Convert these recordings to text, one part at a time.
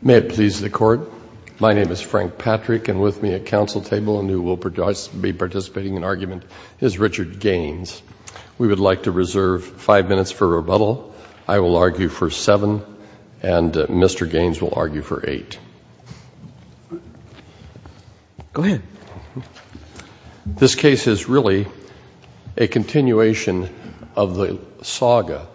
May it please the Court, my name is Frank Patrick and with me at council table and who will be participating in argument is Richard Gaines. We would like to reserve five minutes for rebuttal. I will argue for seven and Mr. Gaines will argue for eight. This case is really a continuation of the saga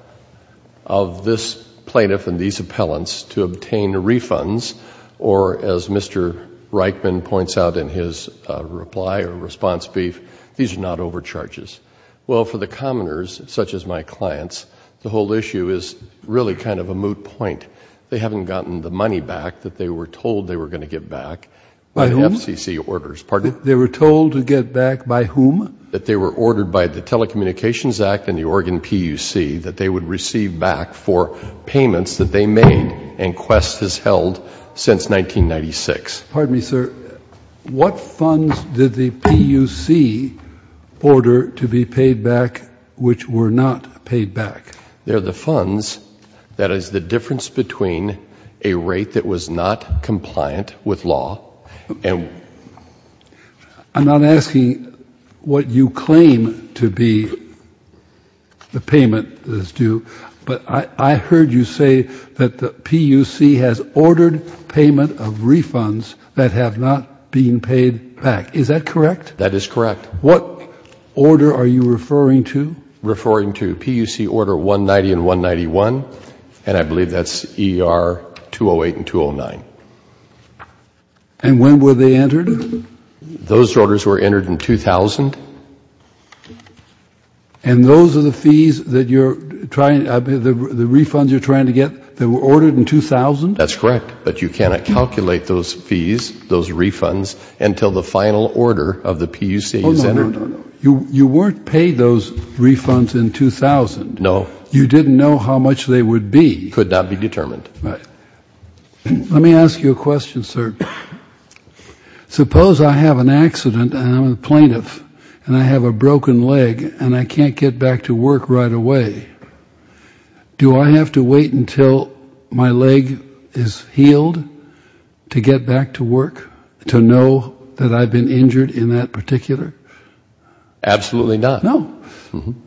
of this plaintiff and these appellants to obtain refunds or as Mr. Reichman points out in his reply or response brief, these are not overcharges. Well for the commoners such as my clients, the whole issue is really kind of a moot point. They haven't gotten the money back that they were told they were going to get back by FCC orders. They were told to get back by whom? That they were ordered by the Telecommunications Act and the Oregon PUC that they would receive back for payments that they made and Qwest has held since 1996. Pardon me, sir. What funds did the PUC order to be paid back which were not paid back? They're the funds that is the difference between a rate that was not compliant with law and I'm not asking what you claim to be the payment that is due, but I heard you say that the PUC has ordered payment of refunds that have not been paid back. Is that correct? That is correct. What order are you referring to? Referring to PUC order 190 and 191 and I believe that's ER 208 and 209. And when were they entered? Those orders were entered in 2000. And those are the fees that you're trying, the refunds you're trying to get, they were ordered in 2000? That's correct, but you cannot calculate those fees, those refunds, until the final order of the PUC is entered. You weren't paid those refunds in 2000. No. You didn't know how much they would be. Could not be determined. Right. Let me ask you a question, sir. Suppose I have an accident and I'm a plaintiff and I have a broken leg and I can't get back to work right away. Do I have to wait until my leg is healed to get back to work? To know that I've been injured in that particular? Absolutely not. No.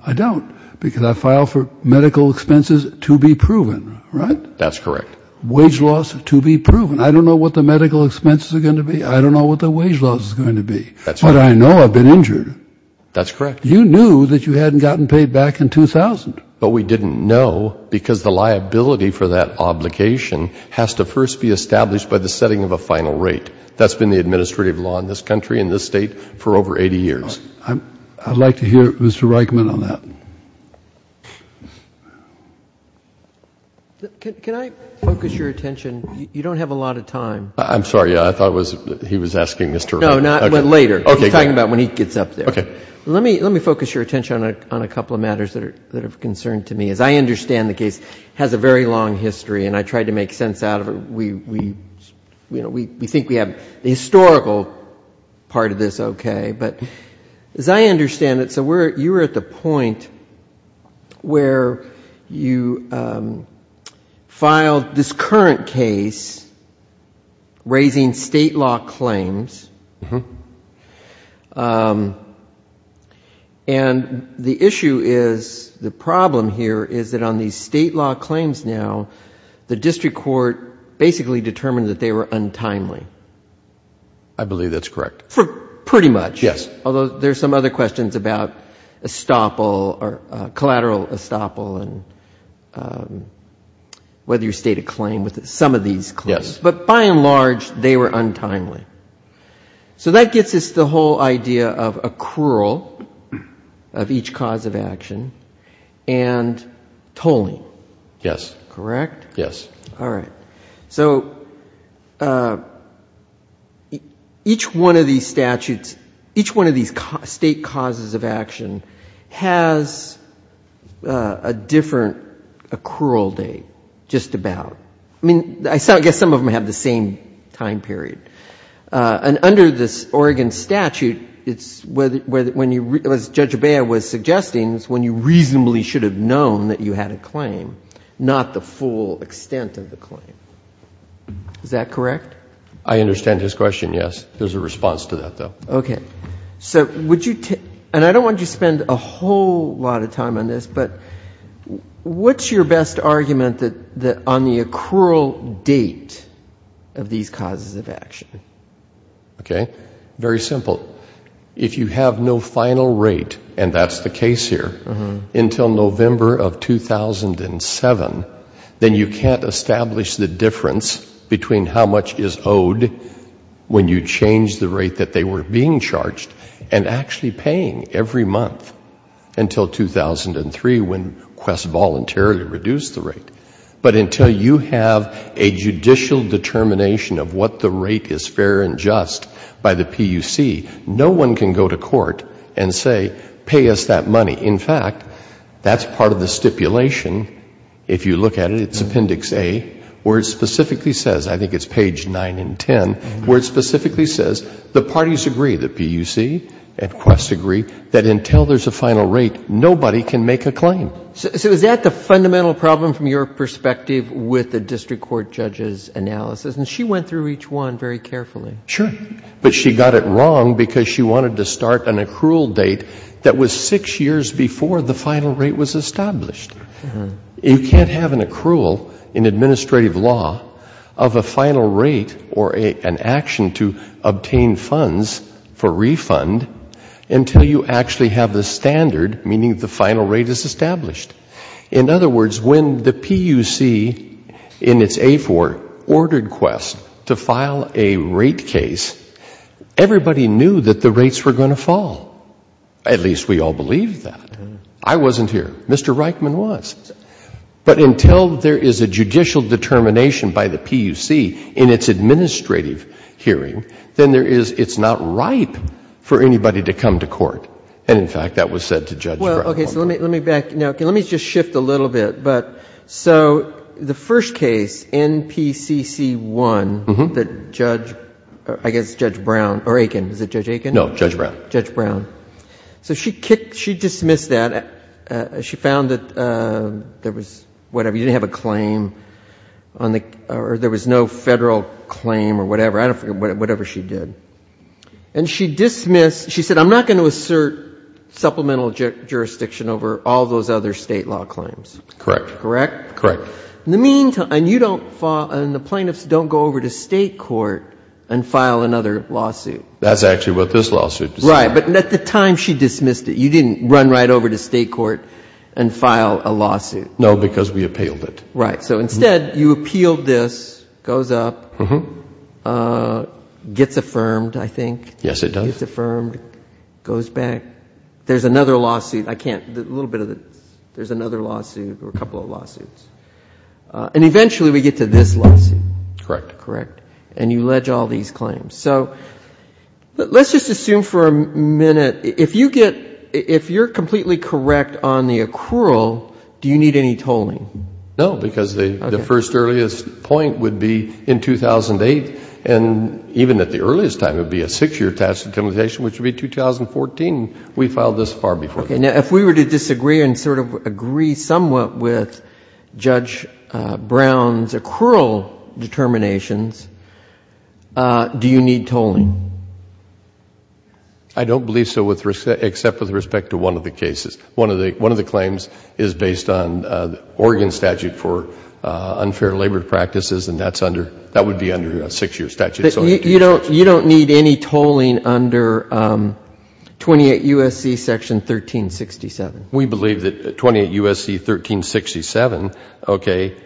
I don't because I file for medical expenses to be proven, right? That's correct. Wage loss to be proven. I don't know what the medical expenses are going to be. I don't know what the wage loss is going to be, but I know I've been injured. That's correct. You knew that you hadn't gotten paid back in 2000. But we didn't know because the liability for that obligation has to first be established by the setting of a final rate. That's been the administrative law in this country, in this state, for over 80 years. I'd like to hear Mr. Reichman on that. Can I focus your attention? You don't have a lot of time. I'm sorry. I thought he was asking Mr. Reichman. No, not later. We're talking about when he gets up there. Let me focus your attention on a couple of matters that are of concern to me. As I understand the case, it has a very long history and I tried to make sense out of it. We think we have the historical part of this okay, but as I understand it, you were at the point where you filed this current case raising state law claims. And the issue is, the problem here is that on these state law claims now, the district court basically determined that they were untimely. I believe that's correct. Pretty much. Yes. Although there's some other questions about estoppel or collateral estoppel and whether you state a claim with some of these claims. But by and large, they were untimely. So that gets us to the whole idea of accrual of each cause of action and tolling. Yes. Correct? Yes. All right. So each one of these statutes, each one of these state causes of action has a different accrual date. Just about. I mean, I guess some of them have the same time period. And under this Oregon statute, it's when you, as Judge Abeya was suggesting, it's when you reasonably should have known that you had a claim, not the full extent of the claim. Is that correct? I understand his question, yes. There's a response to that, though. Okay. So would you, and I don't want you to spend a whole lot of time on this, but what's your best argument that on the accrual date of these causes of action? Okay. Very simple. If you have no final rate, and that's the case here, until November of 2007, then you can't establish the difference between how much is owed when you change the rate that they were being charged and actually paying every month until 2003 when Quest voluntarily reduced the rate. But until you have a judicial determination of what the rate is fair and just by the PUC, no one can go to court and say, pay us that money. In fact, that's part of the stipulation. If you look at it, it's Appendix A, where it specifically says, I think it's page 9 and 10, where it specifically says the parties agree, the PUC and Quest agree, that until there's a final rate, nobody can make a claim. So is that the fundamental problem from your perspective with the district court judge's analysis? And she went through each one very carefully. Sure. But she got it wrong because she wanted to start an accrual date that was six years before the final rate was established. You can't have an accrual in administrative law of a final rate or an action to obtain funds for refund until you actually have the standard, meaning the final rate is established. In other words, when the PUC in its A4 ordered Quest to file a rate case, everybody knew that the rates were going to fall. At least we all believed that. I wasn't here. Mr. Reichman was. But until there is a judicial determination by the PUC in its administrative hearing, then there is, it's not ripe for anybody to come to court. And, in fact, that was said to Judge Brown. Well, okay. So let me back. Now, let me just shift a little bit. But so the first case, NPCC 1, that Judge, I guess, Judge Brown, or Aiken, was it Judge Aiken? No, Judge Brown. Judge Brown. So she kicked, she dismissed that. She found that there was, whatever, you didn't have a claim on the, or there was no Federal claim or whatever. I don't remember. Whatever she did. And she dismissed, she said, I'm not going to assert supplemental jurisdiction over all those other State law claims. Correct. Correct? Correct. In the meantime, and you don't, and the plaintiffs don't go over to State court and file another lawsuit. That's actually what this lawsuit does. Right. But at the time she dismissed it. You didn't run right over to State court and file a lawsuit. No, because we appealed it. Right. So instead you appealed this, goes up, gets affirmed, I think. Yes, it does. Gets affirmed, goes back. There's another lawsuit. I can't, a little bit of this. There's another lawsuit or a couple of lawsuits. And eventually we get to this lawsuit. Correct. Correct. And you ledge all these claims. So let's just assume for a minute, if you get, if you're completely correct on the accrual, do you need any tolling? No. Because the first earliest point would be in 2008, and even at the earliest time it would be a six-year tax intimidation, which would be 2014. We filed this far before that. Okay. Now, if we were to disagree and sort of agree somewhat with Judge Brown's accrual determinations, do you need tolling? I don't believe so, except with respect to one of the cases. One of the claims is based on the Oregon statute for unfair labor practices, and that's under, that would be under a six-year statute. You don't need any tolling under 28 U.S.C. section 1367? We believe that 28 U.S.C. 1367, okay,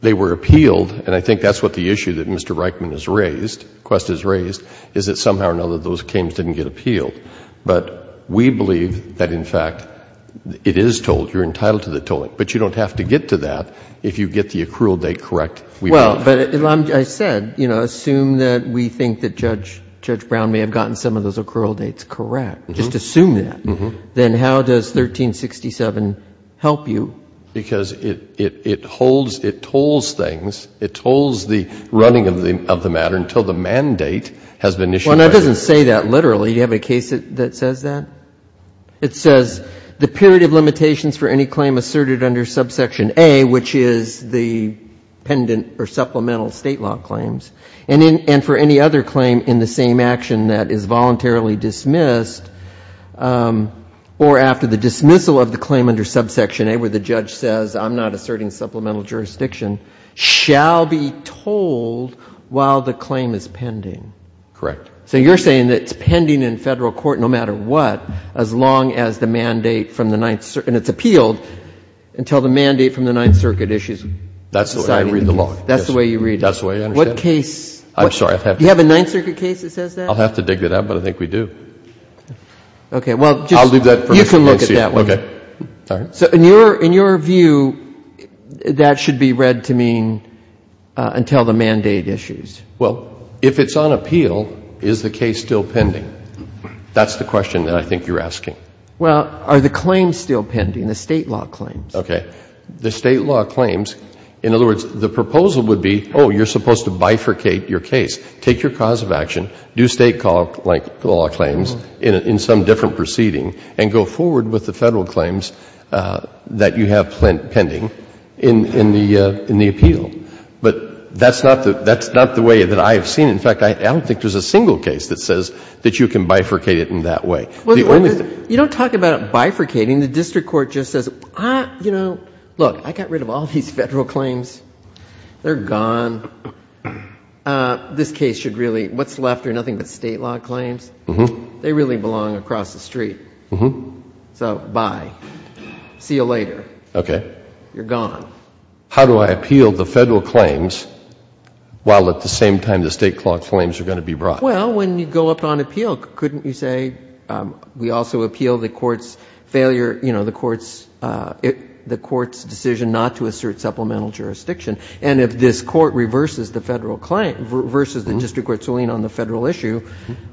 they were appealed, and I think that's what the issue that Mr. Reichman has raised, Quest has raised, is that somehow or another those claims didn't get appealed. But we believe that, in fact, it is tolled, you're entitled to the tolling. But you don't have to get to that if you get the accrual date correct. Well, but I said, you know, assume that we think that Judge Brown may have gotten some of those accrual dates correct. Just assume that. Then how does 1367 help you? Because it holds, it tolls things, it tolls the running of the matter until the mandate has been issued. Well, and it doesn't say that literally. Do you have a case that says that? It says, the period of limitations for any claim asserted under subsection A, which is the pendant or supplemental state law claims, and for any other claim in the same action that is voluntarily dismissed, or after the dismissal of the claim under subsection A where the judge says, I'm not asserting supplemental jurisdiction, shall be tolled while the claim is pending. Correct. So you're saying that it's pending in Federal court no matter what, as long as the mandate from the Ninth Circuit, and it's appealed until the mandate from the Ninth Circuit issues. That's the way I read the law. That's the way you read it. That's the way I understand it. What case? I'm sorry, I have to. Do you have a Ninth Circuit case that says that? I'll have to dig it up, but I think we do. Okay. Well, just. I'll leave that for Mr. Pencia. You can look at that one. Okay. All right. So in your view, that should be read to mean until the mandate issues. Well, if it's on appeal, is the case still pending? That's the question that I think you're asking. Well, are the claims still pending, the State law claims? Okay. The State law claims. In other words, the proposal would be, oh, you're supposed to bifurcate your case. Take your cause of action, do State law claims in some different proceeding, and go forward with the Federal claims that you have pending in the appeal. But that's not the way that I have seen it. In fact, I don't think there's a single case that says that you can bifurcate it in that way. Well, you don't talk about bifurcating. The District Court just says, you know, look, I got rid of all these Federal claims. They're gone. This case should really, what's left are nothing but State law claims. They really belong across the street. So bye. See you later. Okay. You're gone. Now, how do I appeal the Federal claims while at the same time the State law claims are going to be brought? Well, when you go up on appeal, couldn't you say, we also appeal the Court's failure, you know, the Court's decision not to assert supplemental jurisdiction. And if this Court reverses the Federal claim, reverses the District Court's ruling on the Federal issue,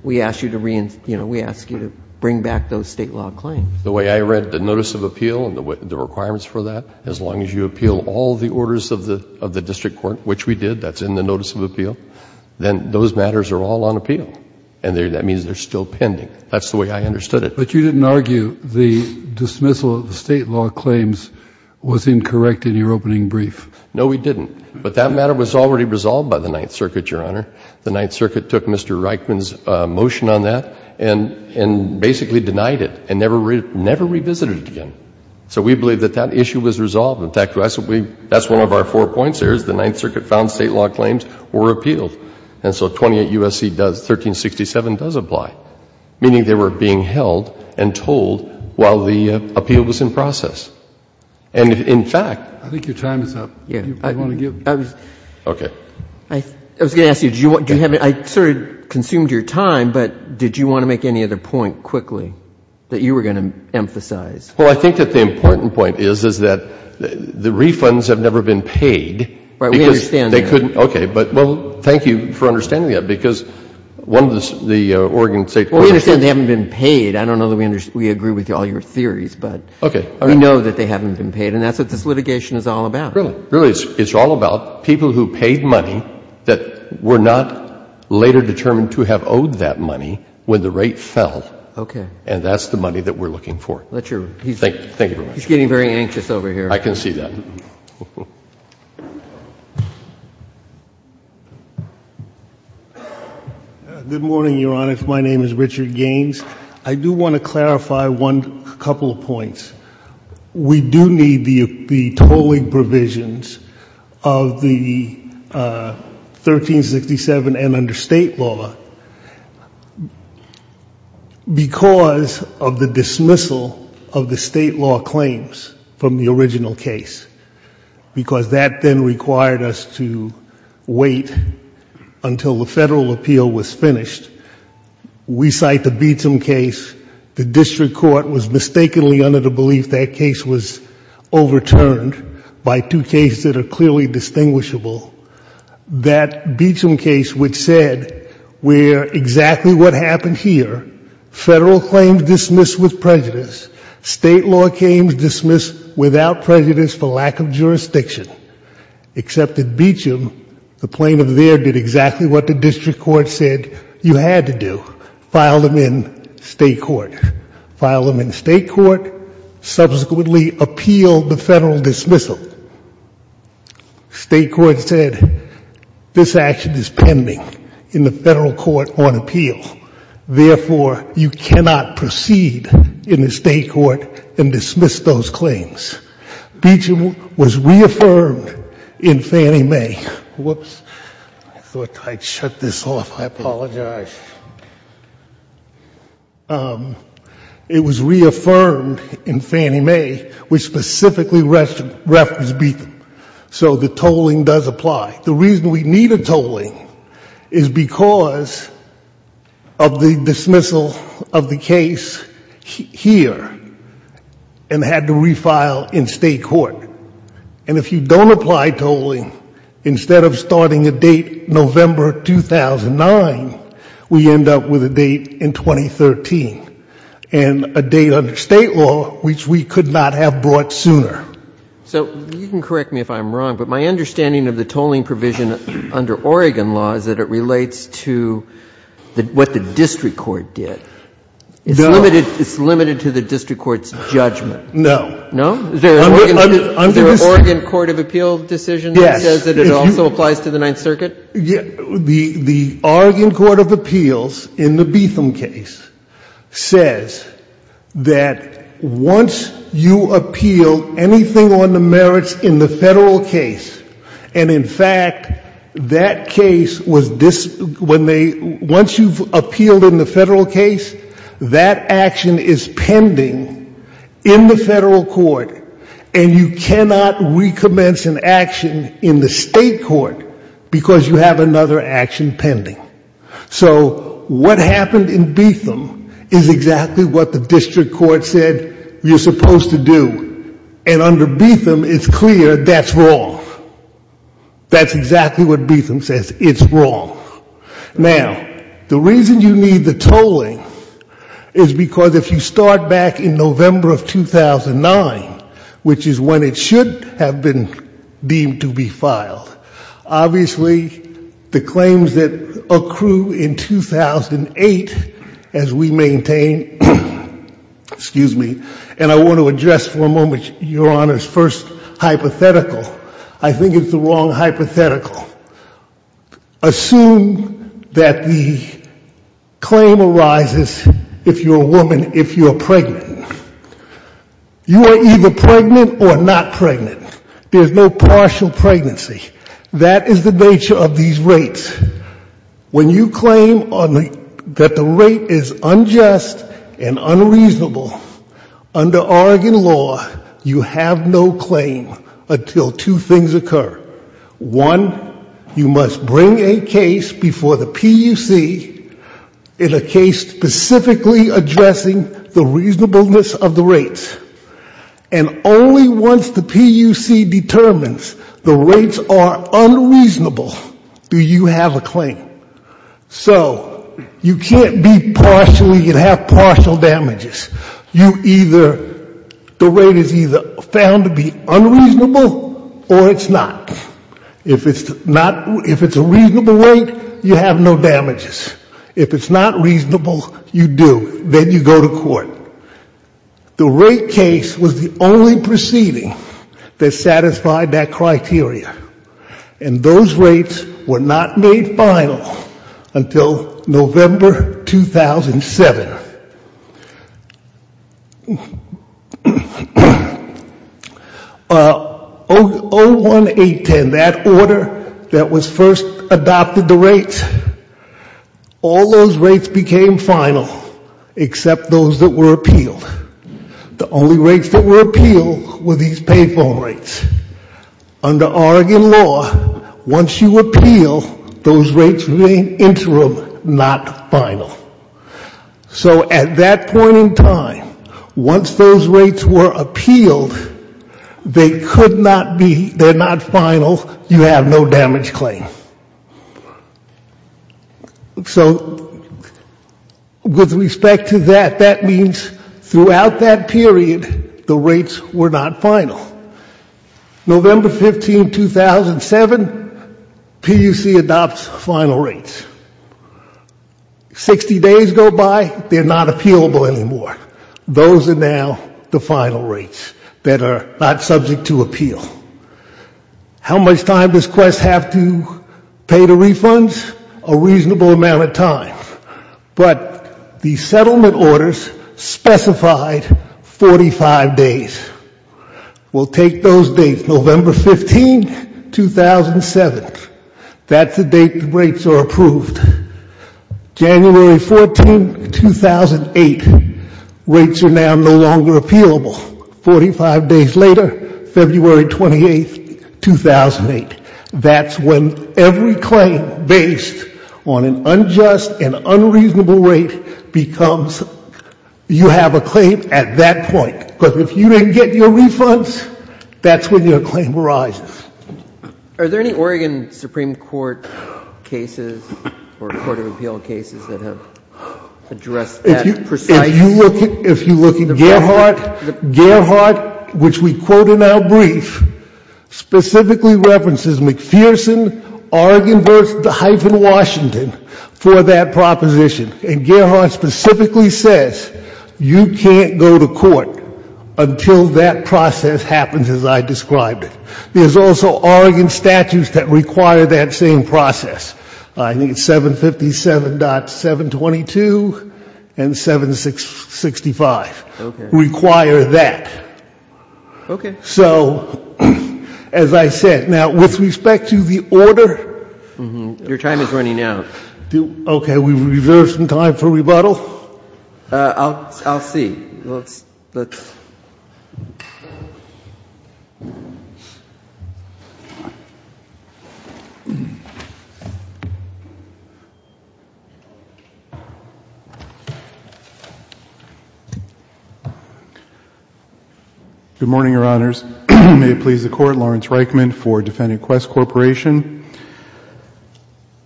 we ask you to, you know, we ask you to bring back those State law claims. The way I read the notice of appeal and the requirements for that, as long as you appeal all the orders of the District Court, which we did, that's in the notice of appeal, then those matters are all on appeal. And that means they're still pending. That's the way I understood it. But you didn't argue the dismissal of the State law claims was incorrect in your opening brief. No, we didn't. But that matter was already resolved by the Ninth Circuit, Your Honor. The Ninth Circuit took Mr. Reichman's motion on that and basically denied it and never revisited it again. So we believe that that issue was resolved. In fact, that's one of our four points there, is the Ninth Circuit found State law claims were appealed. And so 28 U.S.C. does, 1367 does apply, meaning they were being held and told while the appeal was in process. And in fact, I think your time is up. I want to give it to you. Okay. I was going to ask you, I sort of consumed your time, but did you want to make any other point quickly that you were going to emphasize? Well, I think that the important point is, is that the refunds have never been paid. Right, we understand that. Because they couldn't, okay. But well, thank you for understanding that, because one of the Oregon State courts Well, we understand they haven't been paid. I don't know that we agree with all your theories, but we know that they haven't been paid. And that's what this litigation is all about. Really? Really, it's all about people who paid money that were not later determined to have owed that money when the rate fell. Okay. And that's the money that we're looking for. Let your, he's getting very anxious over here. I can see that. Good morning, Your Honor. My name is Richard Gaines. I do want to clarify a couple of points. We do need the tolling provisions of the 1367 and under State law. Because of the dismissal of the State law claims from the original case, because that then required us to wait until the federal appeal was finished, we cite the Beecham case, the district court was mistakenly under the belief that case was overturned by two cases that are clearly distinguishable. That Beecham case which said where exactly what happened here, federal claims dismissed with prejudice, State law claims dismissed without prejudice for lack of jurisdiction, except that Beecham, the plaintiff there, did exactly what the district court said you had to do, file them in State court. File them in State court, subsequently appeal the federal dismissal. State court said this action is pending in the federal court on appeal. Therefore, you cannot proceed in the State court and dismiss those claims. Beecham was reaffirmed in Fannie Mae, whoops, I thought I'd shut this off. I apologize. It was reaffirmed in Fannie Mae, which specifically referenced Beecham, so the tolling does apply. The reason we need a tolling is because of the dismissal of the case here and had to refile in State court. And if you don't apply tolling, instead of starting a date November 2009, we end up with a date in 2013 and a date under State law which we could not have brought sooner. So you can correct me if I'm wrong, but my understanding of the tolling provision under Oregon law is that it relates to what the district court did. It's limited to the district court's judgment. No. No? Is there an Oregon court of appeal decision that says that it also applies to the Ninth Circuit? Yes. The Oregon court of appeals in the Beetham case says that once you appeal anything on the merits in the federal case, and in fact, that case was when they, once you've appealed it, it's pending in the federal court, and you cannot recommence an action in the State court because you have another action pending. So what happened in Beetham is exactly what the district court said you're supposed to do. And under Beetham, it's clear that's wrong. That's exactly what Beetham says. It's wrong. Now, the reason you need the tolling is because if you start back in November of 2009, which is when it should have been deemed to be filed, obviously the claims that accrue in 2008, as we maintain, excuse me, and I want to address for a moment Your Honor's first hypothetical, I think it's the wrong hypothetical. Assume that the claim arises if you're a woman, if you're pregnant. You are either pregnant or not pregnant. There's no partial pregnancy. That is the nature of these rates. When you claim that the rate is unjust and unreasonable, under Oregon law, you have no claim until two things occur. One, you must bring a case before the PUC in a case specifically addressing the reasonableness of the rates. And only once the PUC determines the rates are unreasonable do you have a claim. So you can't be partially, you can't have partial damages. You either, the rate is either found to be unreasonable or it's not. If it's a reasonable rate, you have no damages. If it's not reasonable, you do. Then you go to court. The rate case was the only proceeding that satisfied that criteria. And those rates were not made final until November 2007. In that order that was first adopted, the rates, all those rates became final, except those that were appealed. The only rates that were appealed were these payphone rates. Under Oregon law, once you appeal, those rates remain interim, not final. So at that point in time, once those rates were appealed, they could not be, they're not final. You have no damage claim. So with respect to that, that means throughout that period, the rates were not final. November 15, 2007, PUC adopts final rates. 60 days go by, they're not appealable anymore. Those are now the final rates that are not subject to appeal. How much time does Quest have to pay the refunds? A reasonable amount of time. But the settlement orders specified 45 days. We'll take those dates, November 15, 2007. That's the date the rates are approved. January 14, 2008, rates are now no longer appealable. 45 days later, February 28, 2008. That's when every claim based on an unjust and unreasonable rate becomes, you have a claim at that point. Because if you didn't get your refunds, that's when your claim arises. Are there any Oregon Supreme Court cases or court of appeal cases that have addressed that precisely? If you look at Gerhardt, which we quote in our brief, specifically references McPherson, Oregon v. Washington for that proposition. And Gerhardt specifically says you can't go to court until that process happens, as I described it. There's also Oregon statutes that require that same process. I think it's 757.722 and 765 require that. Okay. So as I said, now, with respect to the order. Your time is running out. Okay. We reserve some time for rebuttal. I'll see. Good morning, Your Honors. May it please the Court. Lawrence Reichman for Defending Quest Corporation.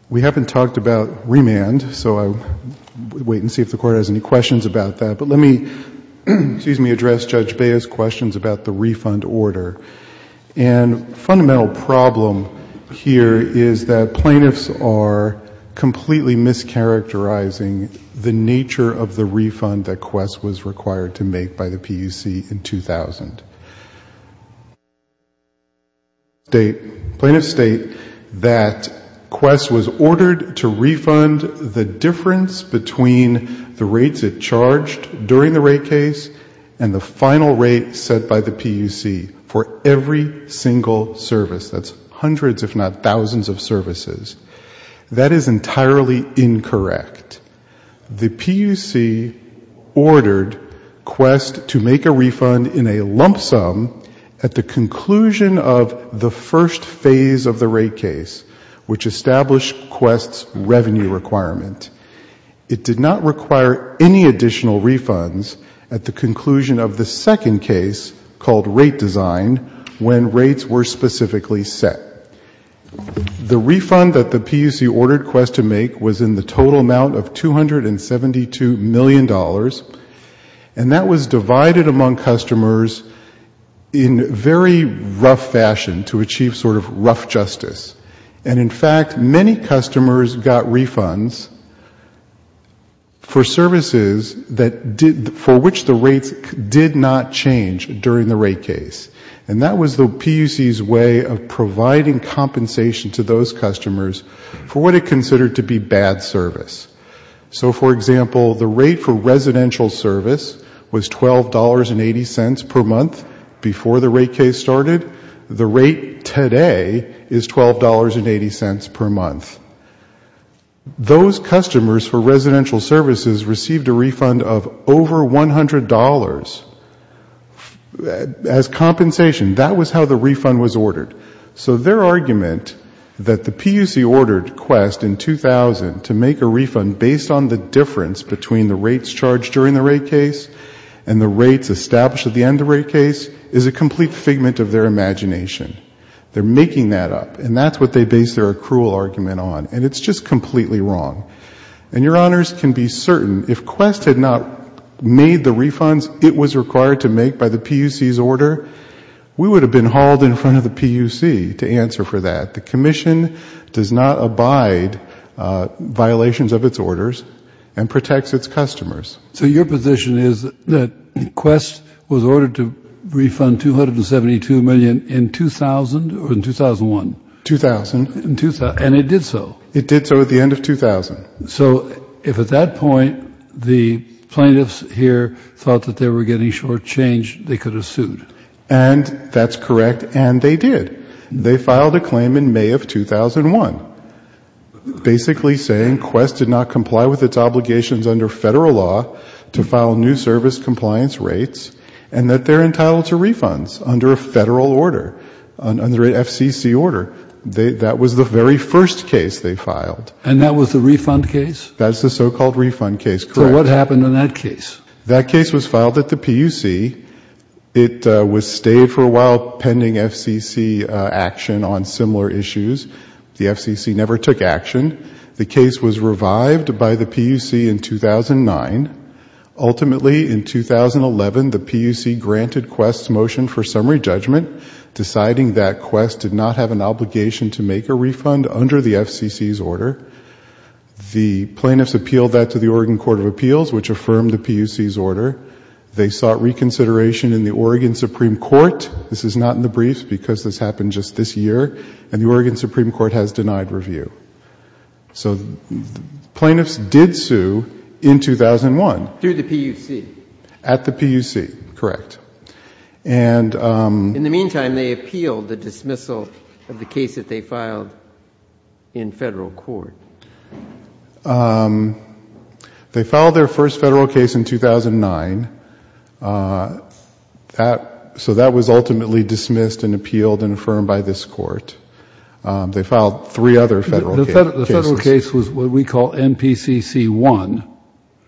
We haven't talked about remand. So I'll wait and see if the Court has any questions about that. But let me address Judge Bea's questions about the refund order. And the fundamental problem here is that plaintiffs are completely mischaracterizing the nature of the refund that Quest was required to make by the PUC in 2000. The plaintiffs state that Quest was ordered to refund the difference between the rates it charged during the rate case and the final rate set by the PUC for every single service. That's hundreds, if not thousands, of services. That is entirely incorrect. The PUC ordered Quest to make a refund in a lump sum at the conclusion of the first phase of the rate case, which established Quest's revenue requirement. It did not require any additional refunds at the conclusion of the second case, called rate design, when rates were specifically set. The refund that the PUC ordered Quest to make was in the total amount of $272 million. And that was divided among customers in very rough fashion to achieve sort of rough justice. And, in fact, many customers got refunds for services for which the rates did not change during the rate case. And that was the PUC's way of providing compensation to those customers for what it considered to be bad service. So, for example, the rate for residential service was $12.80 per month before the rate case started. The rate today is $12.80 per month. Those customers for residential services received a refund of over $100. As compensation, that was how the refund was ordered. So their argument that the PUC ordered Quest in 2000 to make a refund based on the difference between the rates charged during the rate case and the rates established at the end of the rate case is a complete figment of their imagination. They're making that up. And that's what they base their accrual argument on. And it's just completely wrong. And your honors can be certain, if Quest had not made the refunds it was required to make by the PUC's order, we would have been hauled in front of the PUC to answer for that. The commission does not abide violations of its orders and protects its customers. So your position is that Quest was ordered to refund $272 million in 2000 or in 2001? 2000. And it did so? It did so at the end of 2000. So if at that point the plaintiffs here thought that they were getting short change, they could have sued? And that's correct. And they did. They filed a claim in May of 2001 basically saying Quest did not comply with its obligations under federal law to file new service compliance rates and that they're entitled to refunds under a federal order, under an FCC order. That was the very first case they filed. And that was the refund case? That's the so-called refund case. Correct. So what happened in that case? That case was filed at the PUC. It stayed for a while pending FCC action on similar issues. The FCC never took action. The case was revived by the PUC in 2009. Ultimately in 2011 the PUC granted Quest's motion for summary judgment, deciding that Quest did not have an obligation to make a refund under the FCC's order. The plaintiffs appealed that to the Oregon Court of Appeals, which affirmed the PUC's order. They sought reconsideration in the Oregon Supreme Court. This is not in the briefs because this happened just this year. And the Oregon Supreme Court has denied review. So the plaintiffs did sue in 2001. Through the PUC? At the PUC, correct. In the meantime, they appealed the dismissal of the case that they filed in federal court. They filed their first federal case in 2009. So that was ultimately dismissed and appealed and affirmed by this court. They filed three other federal cases. The federal case was what we call MPCC 1.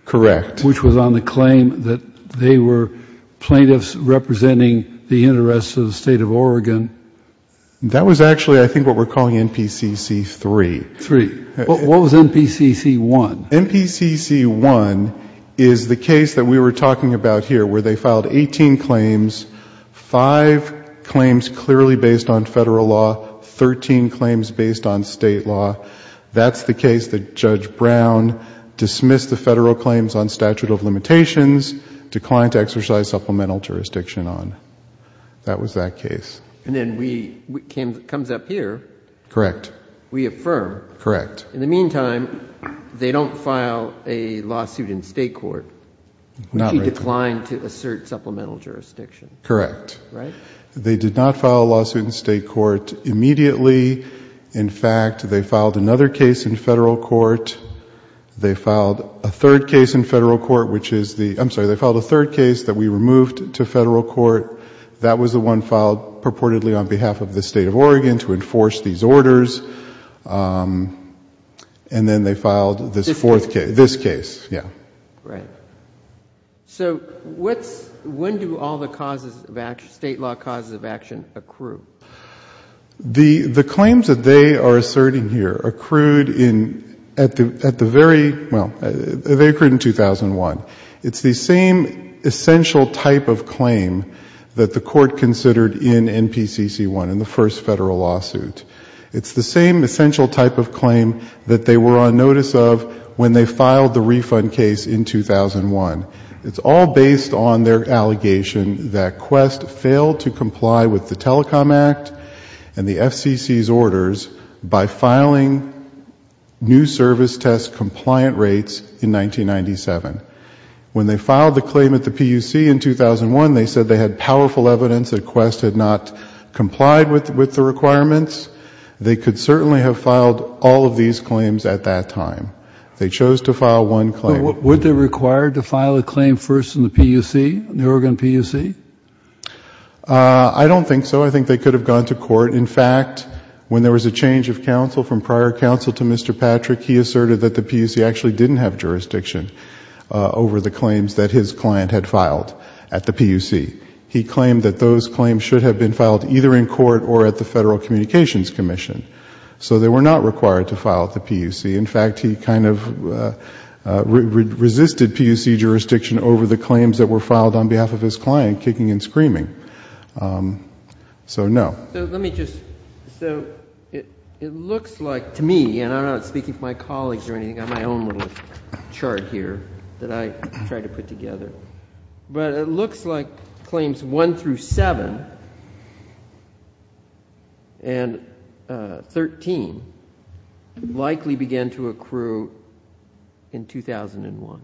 Correct. Which was on the claim that they were plaintiffs representing the interests of the state of Oregon. That was actually I think what we're calling MPCC 3. Three. What was MPCC 1? MPCC 1 is the case that we were talking about here where they filed 18 claims, five claims clearly based on federal law, 13 claims based on state law. That's the case that Judge Brown dismissed the federal claims on statute of limitations, declined to exercise supplemental jurisdiction on. That was that case. And then it comes up here. Correct. We affirm. Correct. In the meantime, they don't file a lawsuit in state court. Not right there. They declined to assert supplemental jurisdiction. Correct. Right? They did not file a lawsuit in state court immediately. In fact, they filed another case in federal court. They filed a third case in federal court, which is the... I'm sorry. They filed a third case that we removed to federal court. That was the one filed purportedly on behalf of the state of Oregon to enforce these orders. And then they filed this fourth case. This case. Yeah. Right. So when do all the state law causes of action accrue? The claims that they are asserting here accrued in... at the very... well, they accrued in 2001. It's the same essential type of claim that the court considered in NPCC-1, in the first federal lawsuit. It's the same essential type of claim that they were on notice of when they filed the refund case in 2001. It's all based on their allegation that Quest failed to comply with the Telecom Act and the FCC's orders by filing new service test compliant rates in 1997. When they filed the claim at the PUC in 2001, they said they had powerful evidence that Quest had not complied with the requirements. They could certainly have filed all of these claims at that time. They chose to file one claim. Were they required to file a claim first in the PUC, the Oregon PUC? I don't think so. I think they could have gone to court. In fact, when there was a change of counsel from prior counsel to Mr. Patrick, he asserted that the PUC actually didn't have jurisdiction over the claims that his client had filed at the PUC. He claimed that those claims should have been filed either in court or at the Federal Communications Commission. So they were not required to file at the PUC. In fact, he kind of resisted PUC jurisdiction over the claims that were So it looks like to me, and I'm not speaking for my colleagues or anything, I have my own little chart here that I tried to put together, but it looks like claims 1 through 7 and 13 likely began to accrue in 2001.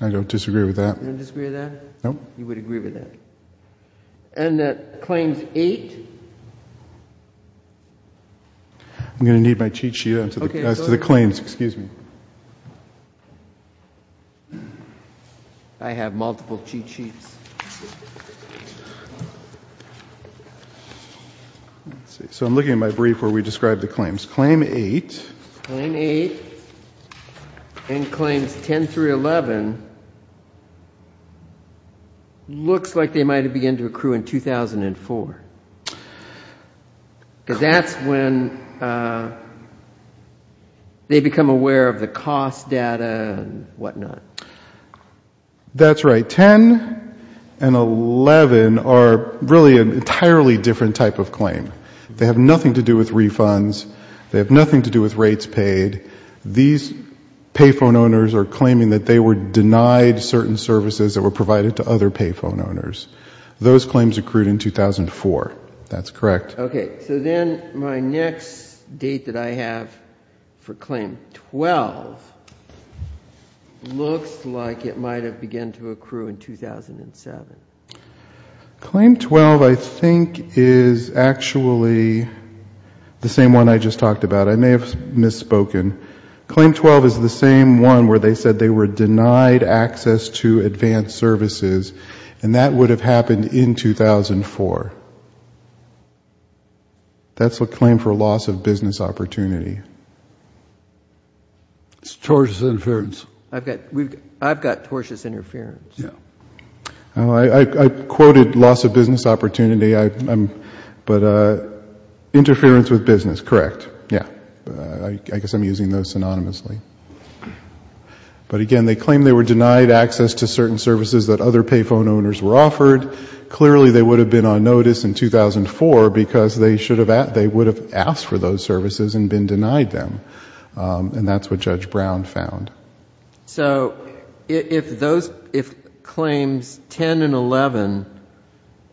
I don't disagree with that. You don't disagree with that? No. You would agree with that? And that claims 8? I'm going to need my cheat sheet as to the claims. Excuse me. I have multiple cheat sheets. So I'm looking at my brief where we describe the claims. Claim 8. And claims 10 through 11 looks like they might have begun to accrue in 2004. Because that's when they become aware of the cost data and whatnot. That's right. 10 and 11 are really an entirely different type of claim. They have nothing to do with refunds. They have nothing to do with rates paid. These pay phone owners are claiming that they were denied certain services that were provided to other pay phone owners. Those claims accrued in 2004. That's correct. Okay. So then my next date that I have for claim 12 looks like it might have began to accrue in 2007. Claim 12 I think is actually the same one I just talked about. I may have misspoken. Claim 12 is the same one where they said they were denied access to advanced services. And that would have happened in 2004. That's a claim for loss of business opportunity. It's tortious interference. I've got tortious interference. I quoted loss of business opportunity. But interference with business, correct. Yeah. I guess I'm using those synonymously. But, again, they claim they were denied access to certain services that other pay phone owners were offered. Clearly they would have been on notice in 2004 because they would have asked for those services and been denied them. And that's what Judge Brown found. So if claims 10 and 11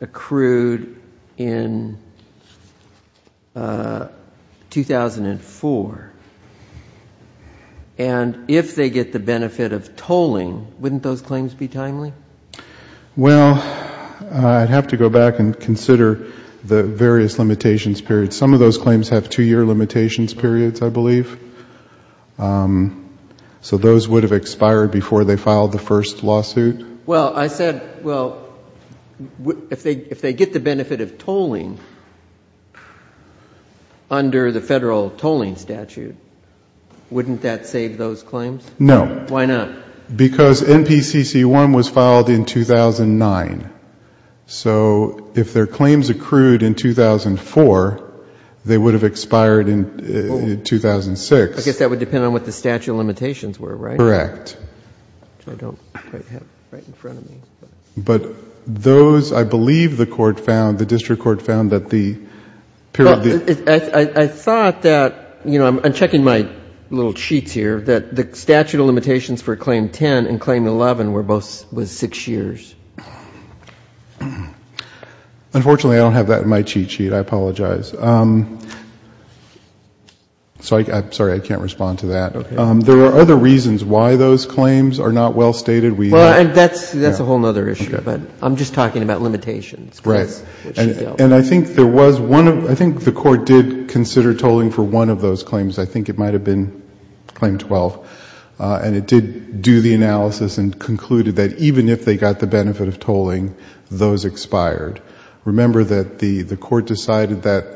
accrued in 2004, and if they get the benefit of tolling, wouldn't those claims be timely? Well, I'd have to go back and consider the various limitations periods. Some of those claims have two-year limitations periods, I believe. So those would have expired before they filed the first lawsuit. Well, I said, well, if they get the benefit of tolling under the federal tolling statute, wouldn't that save those claims? No. Why not? Because NPCC-1 was filed in 2009. So if their claims accrued in 2004, they would have expired in 2006. I guess that would depend on what the statute of limitations were, right? Correct. Which I don't quite have right in front of me. But those, I believe the court found, the district court found that the period of the ---- Well, I thought that, you know, I'm checking my little sheets here, that the Unfortunately, I don't have that in my cheat sheet. I apologize. Sorry, I can't respond to that. Okay. There are other reasons why those claims are not well stated. Well, that's a whole other issue. Okay. But I'm just talking about limitations. Right. And I think there was one, I think the court did consider tolling for one of those claims. I think it might have been claim 12. And it did do the analysis and concluded that even if they got the benefit of tolling, those expired. Remember that the court decided that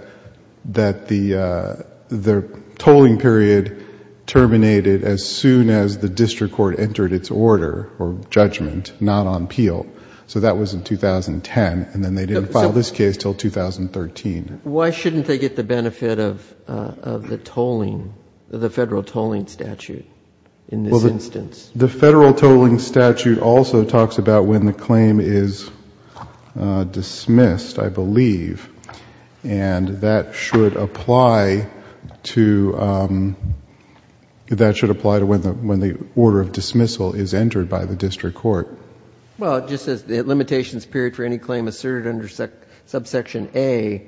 the tolling period terminated as soon as the district court entered its order or judgment, not on appeal. So that was in 2010. And then they didn't file this case until 2013. Why shouldn't they get the benefit of the tolling, the federal tolling statute in this instance? The federal tolling statute also talks about when the claim is dismissed, I believe. And that should apply to, that should apply to when the order of dismissal is entered by the district court. Well, it just says the limitations period for any claim asserted under subsection A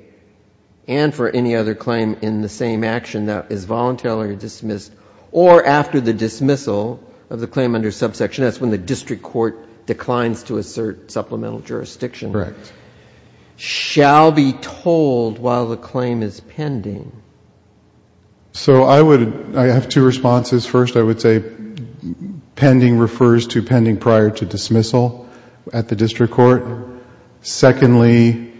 and for any other claim in the same action that is voluntarily dismissed or after the dismissal of the claim under subsection S when the district court declines to assert supplemental jurisdiction. Correct. Shall be tolled while the claim is pending. So I would, I have two responses. First, I would say pending refers to pending prior to dismissal at the district court. Secondly,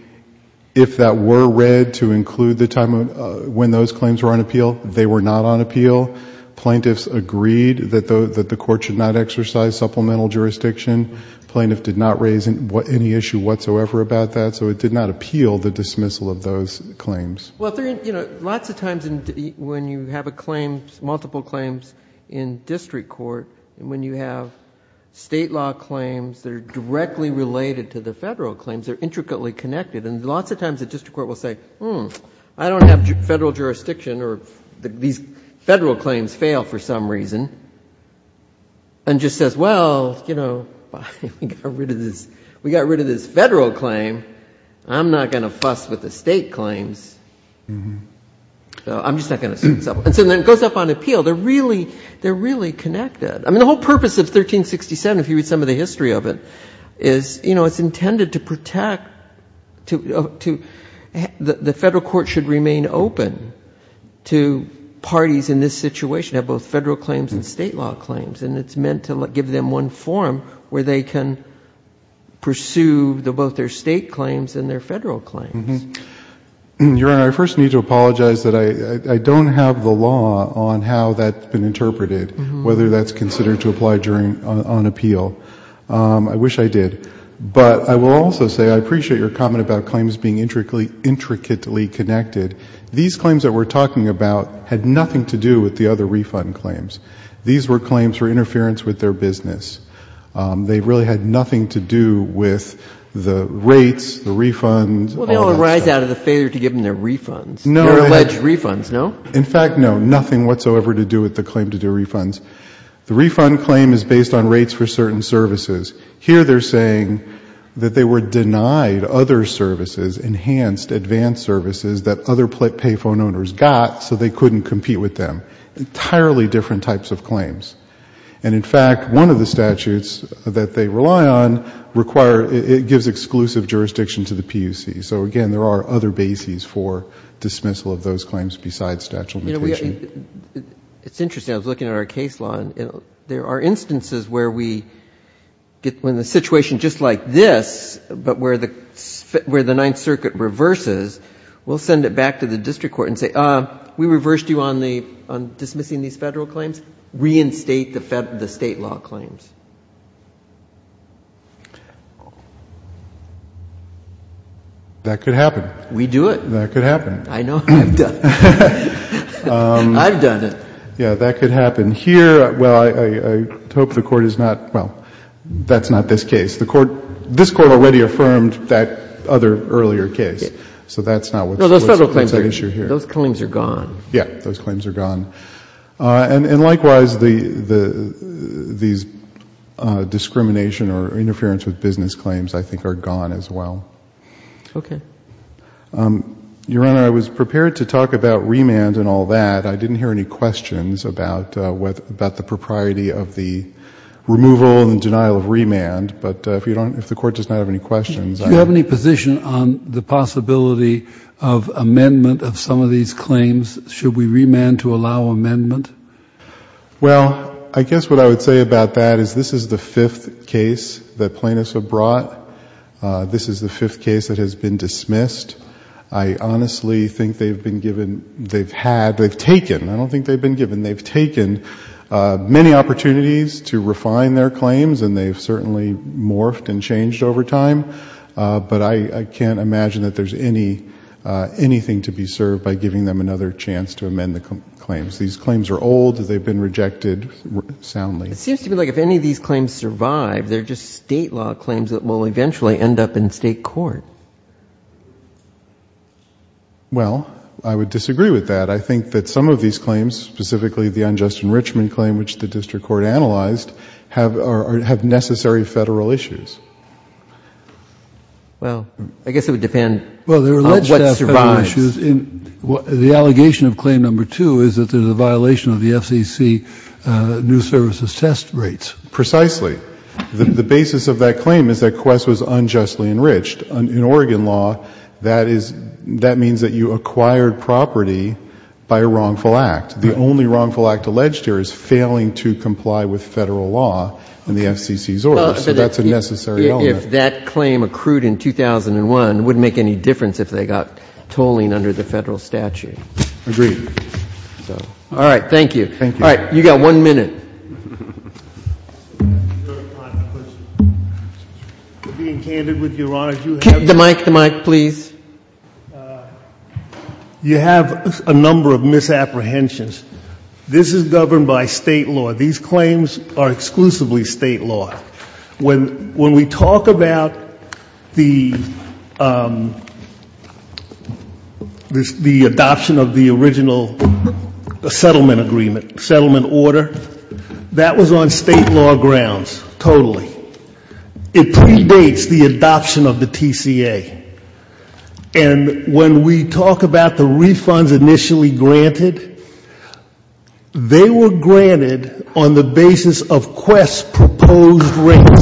if that were read to include the time when those claims were on appeal, they were not on appeal. Plaintiffs agreed that the court should not exercise supplemental jurisdiction. Plaintiff did not raise any issue whatsoever about that. So it did not appeal the dismissal of those claims. Well, you know, lots of times when you have a claim, multiple claims in district court, when you have state law claims that are directly related to the federal claims, they're intricately connected. And lots of times the district court will say, hmm, I don't have federal jurisdiction or these federal claims fail for some reason, and just says, well, you know, we got rid of this federal claim. I'm not going to fuss with the state claims. I'm just not going to sue. And so then it goes up on appeal. They're really connected. I mean, the whole purpose of 1367, if you read some of the history of it, is, you know, it's intended to protect, the federal court should remain open to parties in this situation that have both federal claims and state law claims. And it's meant to give them one forum where they can pursue both their state claims and their federal claims. Your Honor, I first need to apologize that I don't have the law on how that's been interpreted, whether that's considered to apply on appeal. I wish I did. But I will also say I appreciate your comment about claims being intricately connected. These claims that we're talking about had nothing to do with the other refund claims. These were claims for interference with their business. They really had nothing to do with the rates, the refunds, all that stuff. Well, they all arise out of the failure to give them their refunds. No. Their alleged refunds, no? In fact, no, nothing whatsoever to do with the claim to do refunds. The refund claim is based on rates for certain services. Here they're saying that they were denied other services, enhanced, advanced services that other pay phone owners got so they couldn't compete with them. Entirely different types of claims. And in fact, one of the statutes that they rely on, it gives exclusive jurisdiction to the PUC. So, again, there are other bases for dismissal of those claims besides statute of limitation. It's interesting. I was looking at our case law. There are instances where we get in a situation just like this, but where the Ninth Circuit reverses, we'll send it back to the district court and say, we reversed you on dismissing these federal claims. Reinstate the state law claims. That could happen. We do it. That could happen. I know. I've done it. I've done it. Yeah. That could happen here. Well, I hope the Court is not, well, that's not this case. This Court already affirmed that other earlier case. So that's not what's at issue here. Those claims are gone. Yeah. Those claims are gone. And likewise, these discrimination or interference with business claims, I think, are gone as well. Okay. Your Honor, I was prepared to talk about remand and all that. I didn't hear any questions about the propriety of the removal and denial of remand. But if you don't, if the Court does not have any questions. Do you have any position on the possibility of amendment of some of these claims? Should we remand to allow amendment? Well, I guess what I would say about that is this is the fifth case that plaintiffs have brought. This is the fifth case that has been dismissed. I honestly think they've been given, they've had, they've taken, I don't think they've been given, they've taken many opportunities to refine their claims. And they've certainly morphed and changed over time. But I can't imagine that there's anything to be served by giving them another chance to amend the claims. These claims are old. They've been rejected soundly. It seems to me like if any of these claims survive, they're just State law claims that will eventually end up in State court. Well, I would disagree with that. I think that some of these claims, specifically the unjust enrichment claim, which the district court analyzed, have necessary Federal issues. Well, I guess it would depend on what survives. Well, there are a list of Federal issues. The allegation of claim number two is that there's a violation of the FCC new services test rates. Precisely. The basis of that claim is that Quest was unjustly enriched. In Oregon law, that is, that means that you acquired property by a wrongful act. The only wrongful act alleged here is failing to comply with Federal law in the FCC's order. So that's a necessary element. If that claim accrued in 2001, it wouldn't make any difference if they got tolling under the Federal statute. Agreed. All right. Thank you. Thank you. All right. You've got one minute. We're being candid with you, Your Honor. The mic, the mic, please. You have a number of misapprehensions. This is governed by State law. These claims are exclusively State law. When we talk about the adoption of the original settlement agreement, settlement order, that was on State law grounds, totally. It predates the adoption of the TCA. And when we talk about the refunds initially granted, they were granted on the basis of Quest's proposed rates.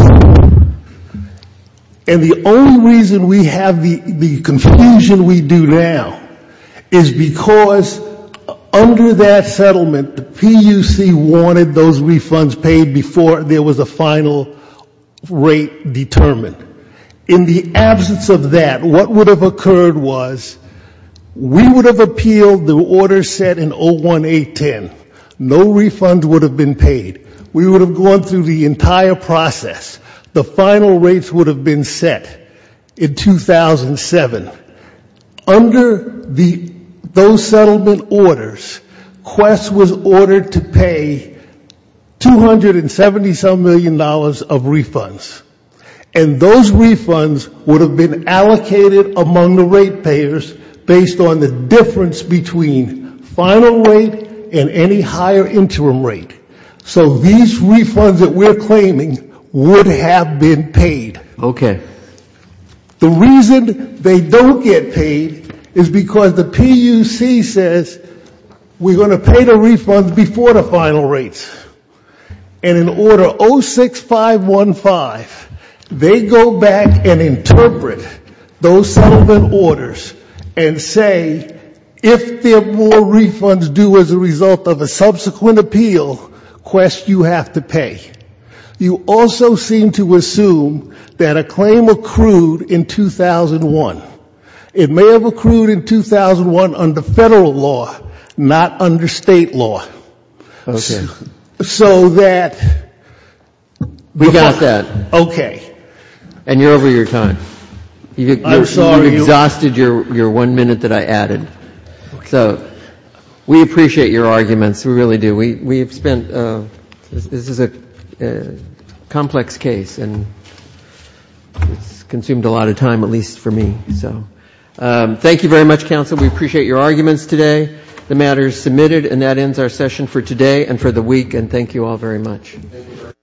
And the only reason we have the confusion we do now is because under that settlement, the PUC wanted those refunds paid before there was a final rate determined. In the absence of that, what would have occurred was we would have appealed the order set in 01810. No refund would have been paid. We would have gone through the entire process. The final rates would have been set in 2007. Under those settlement orders, Quest was ordered to pay $277 million of refunds. And those refunds would have been allocated among the rate payers based on the difference between final rate and any higher interim rate. So these refunds that we're claiming would have been paid. Okay. The reason they don't get paid is because the PUC says we're going to pay the refunds before the final rates. And in order 06515, they go back and interpret those settlement orders and say if there are no refunds due as a result of a subsequent appeal, Quest, you have to pay. You also seem to assume that a claim accrued in 2001. It may have accrued in 2001 under Federal law, not under State law. Okay. So that we got that. Okay. And you're over your time. I'm sorry. You exhausted your one minute that I added. So we appreciate your arguments. We really do. We have spent, this is a complex case. And it's consumed a lot of time, at least for me. So thank you very much, counsel. We appreciate your arguments today. The matter is submitted. And that ends our session for today and for the week. And thank you all very much. Thank you.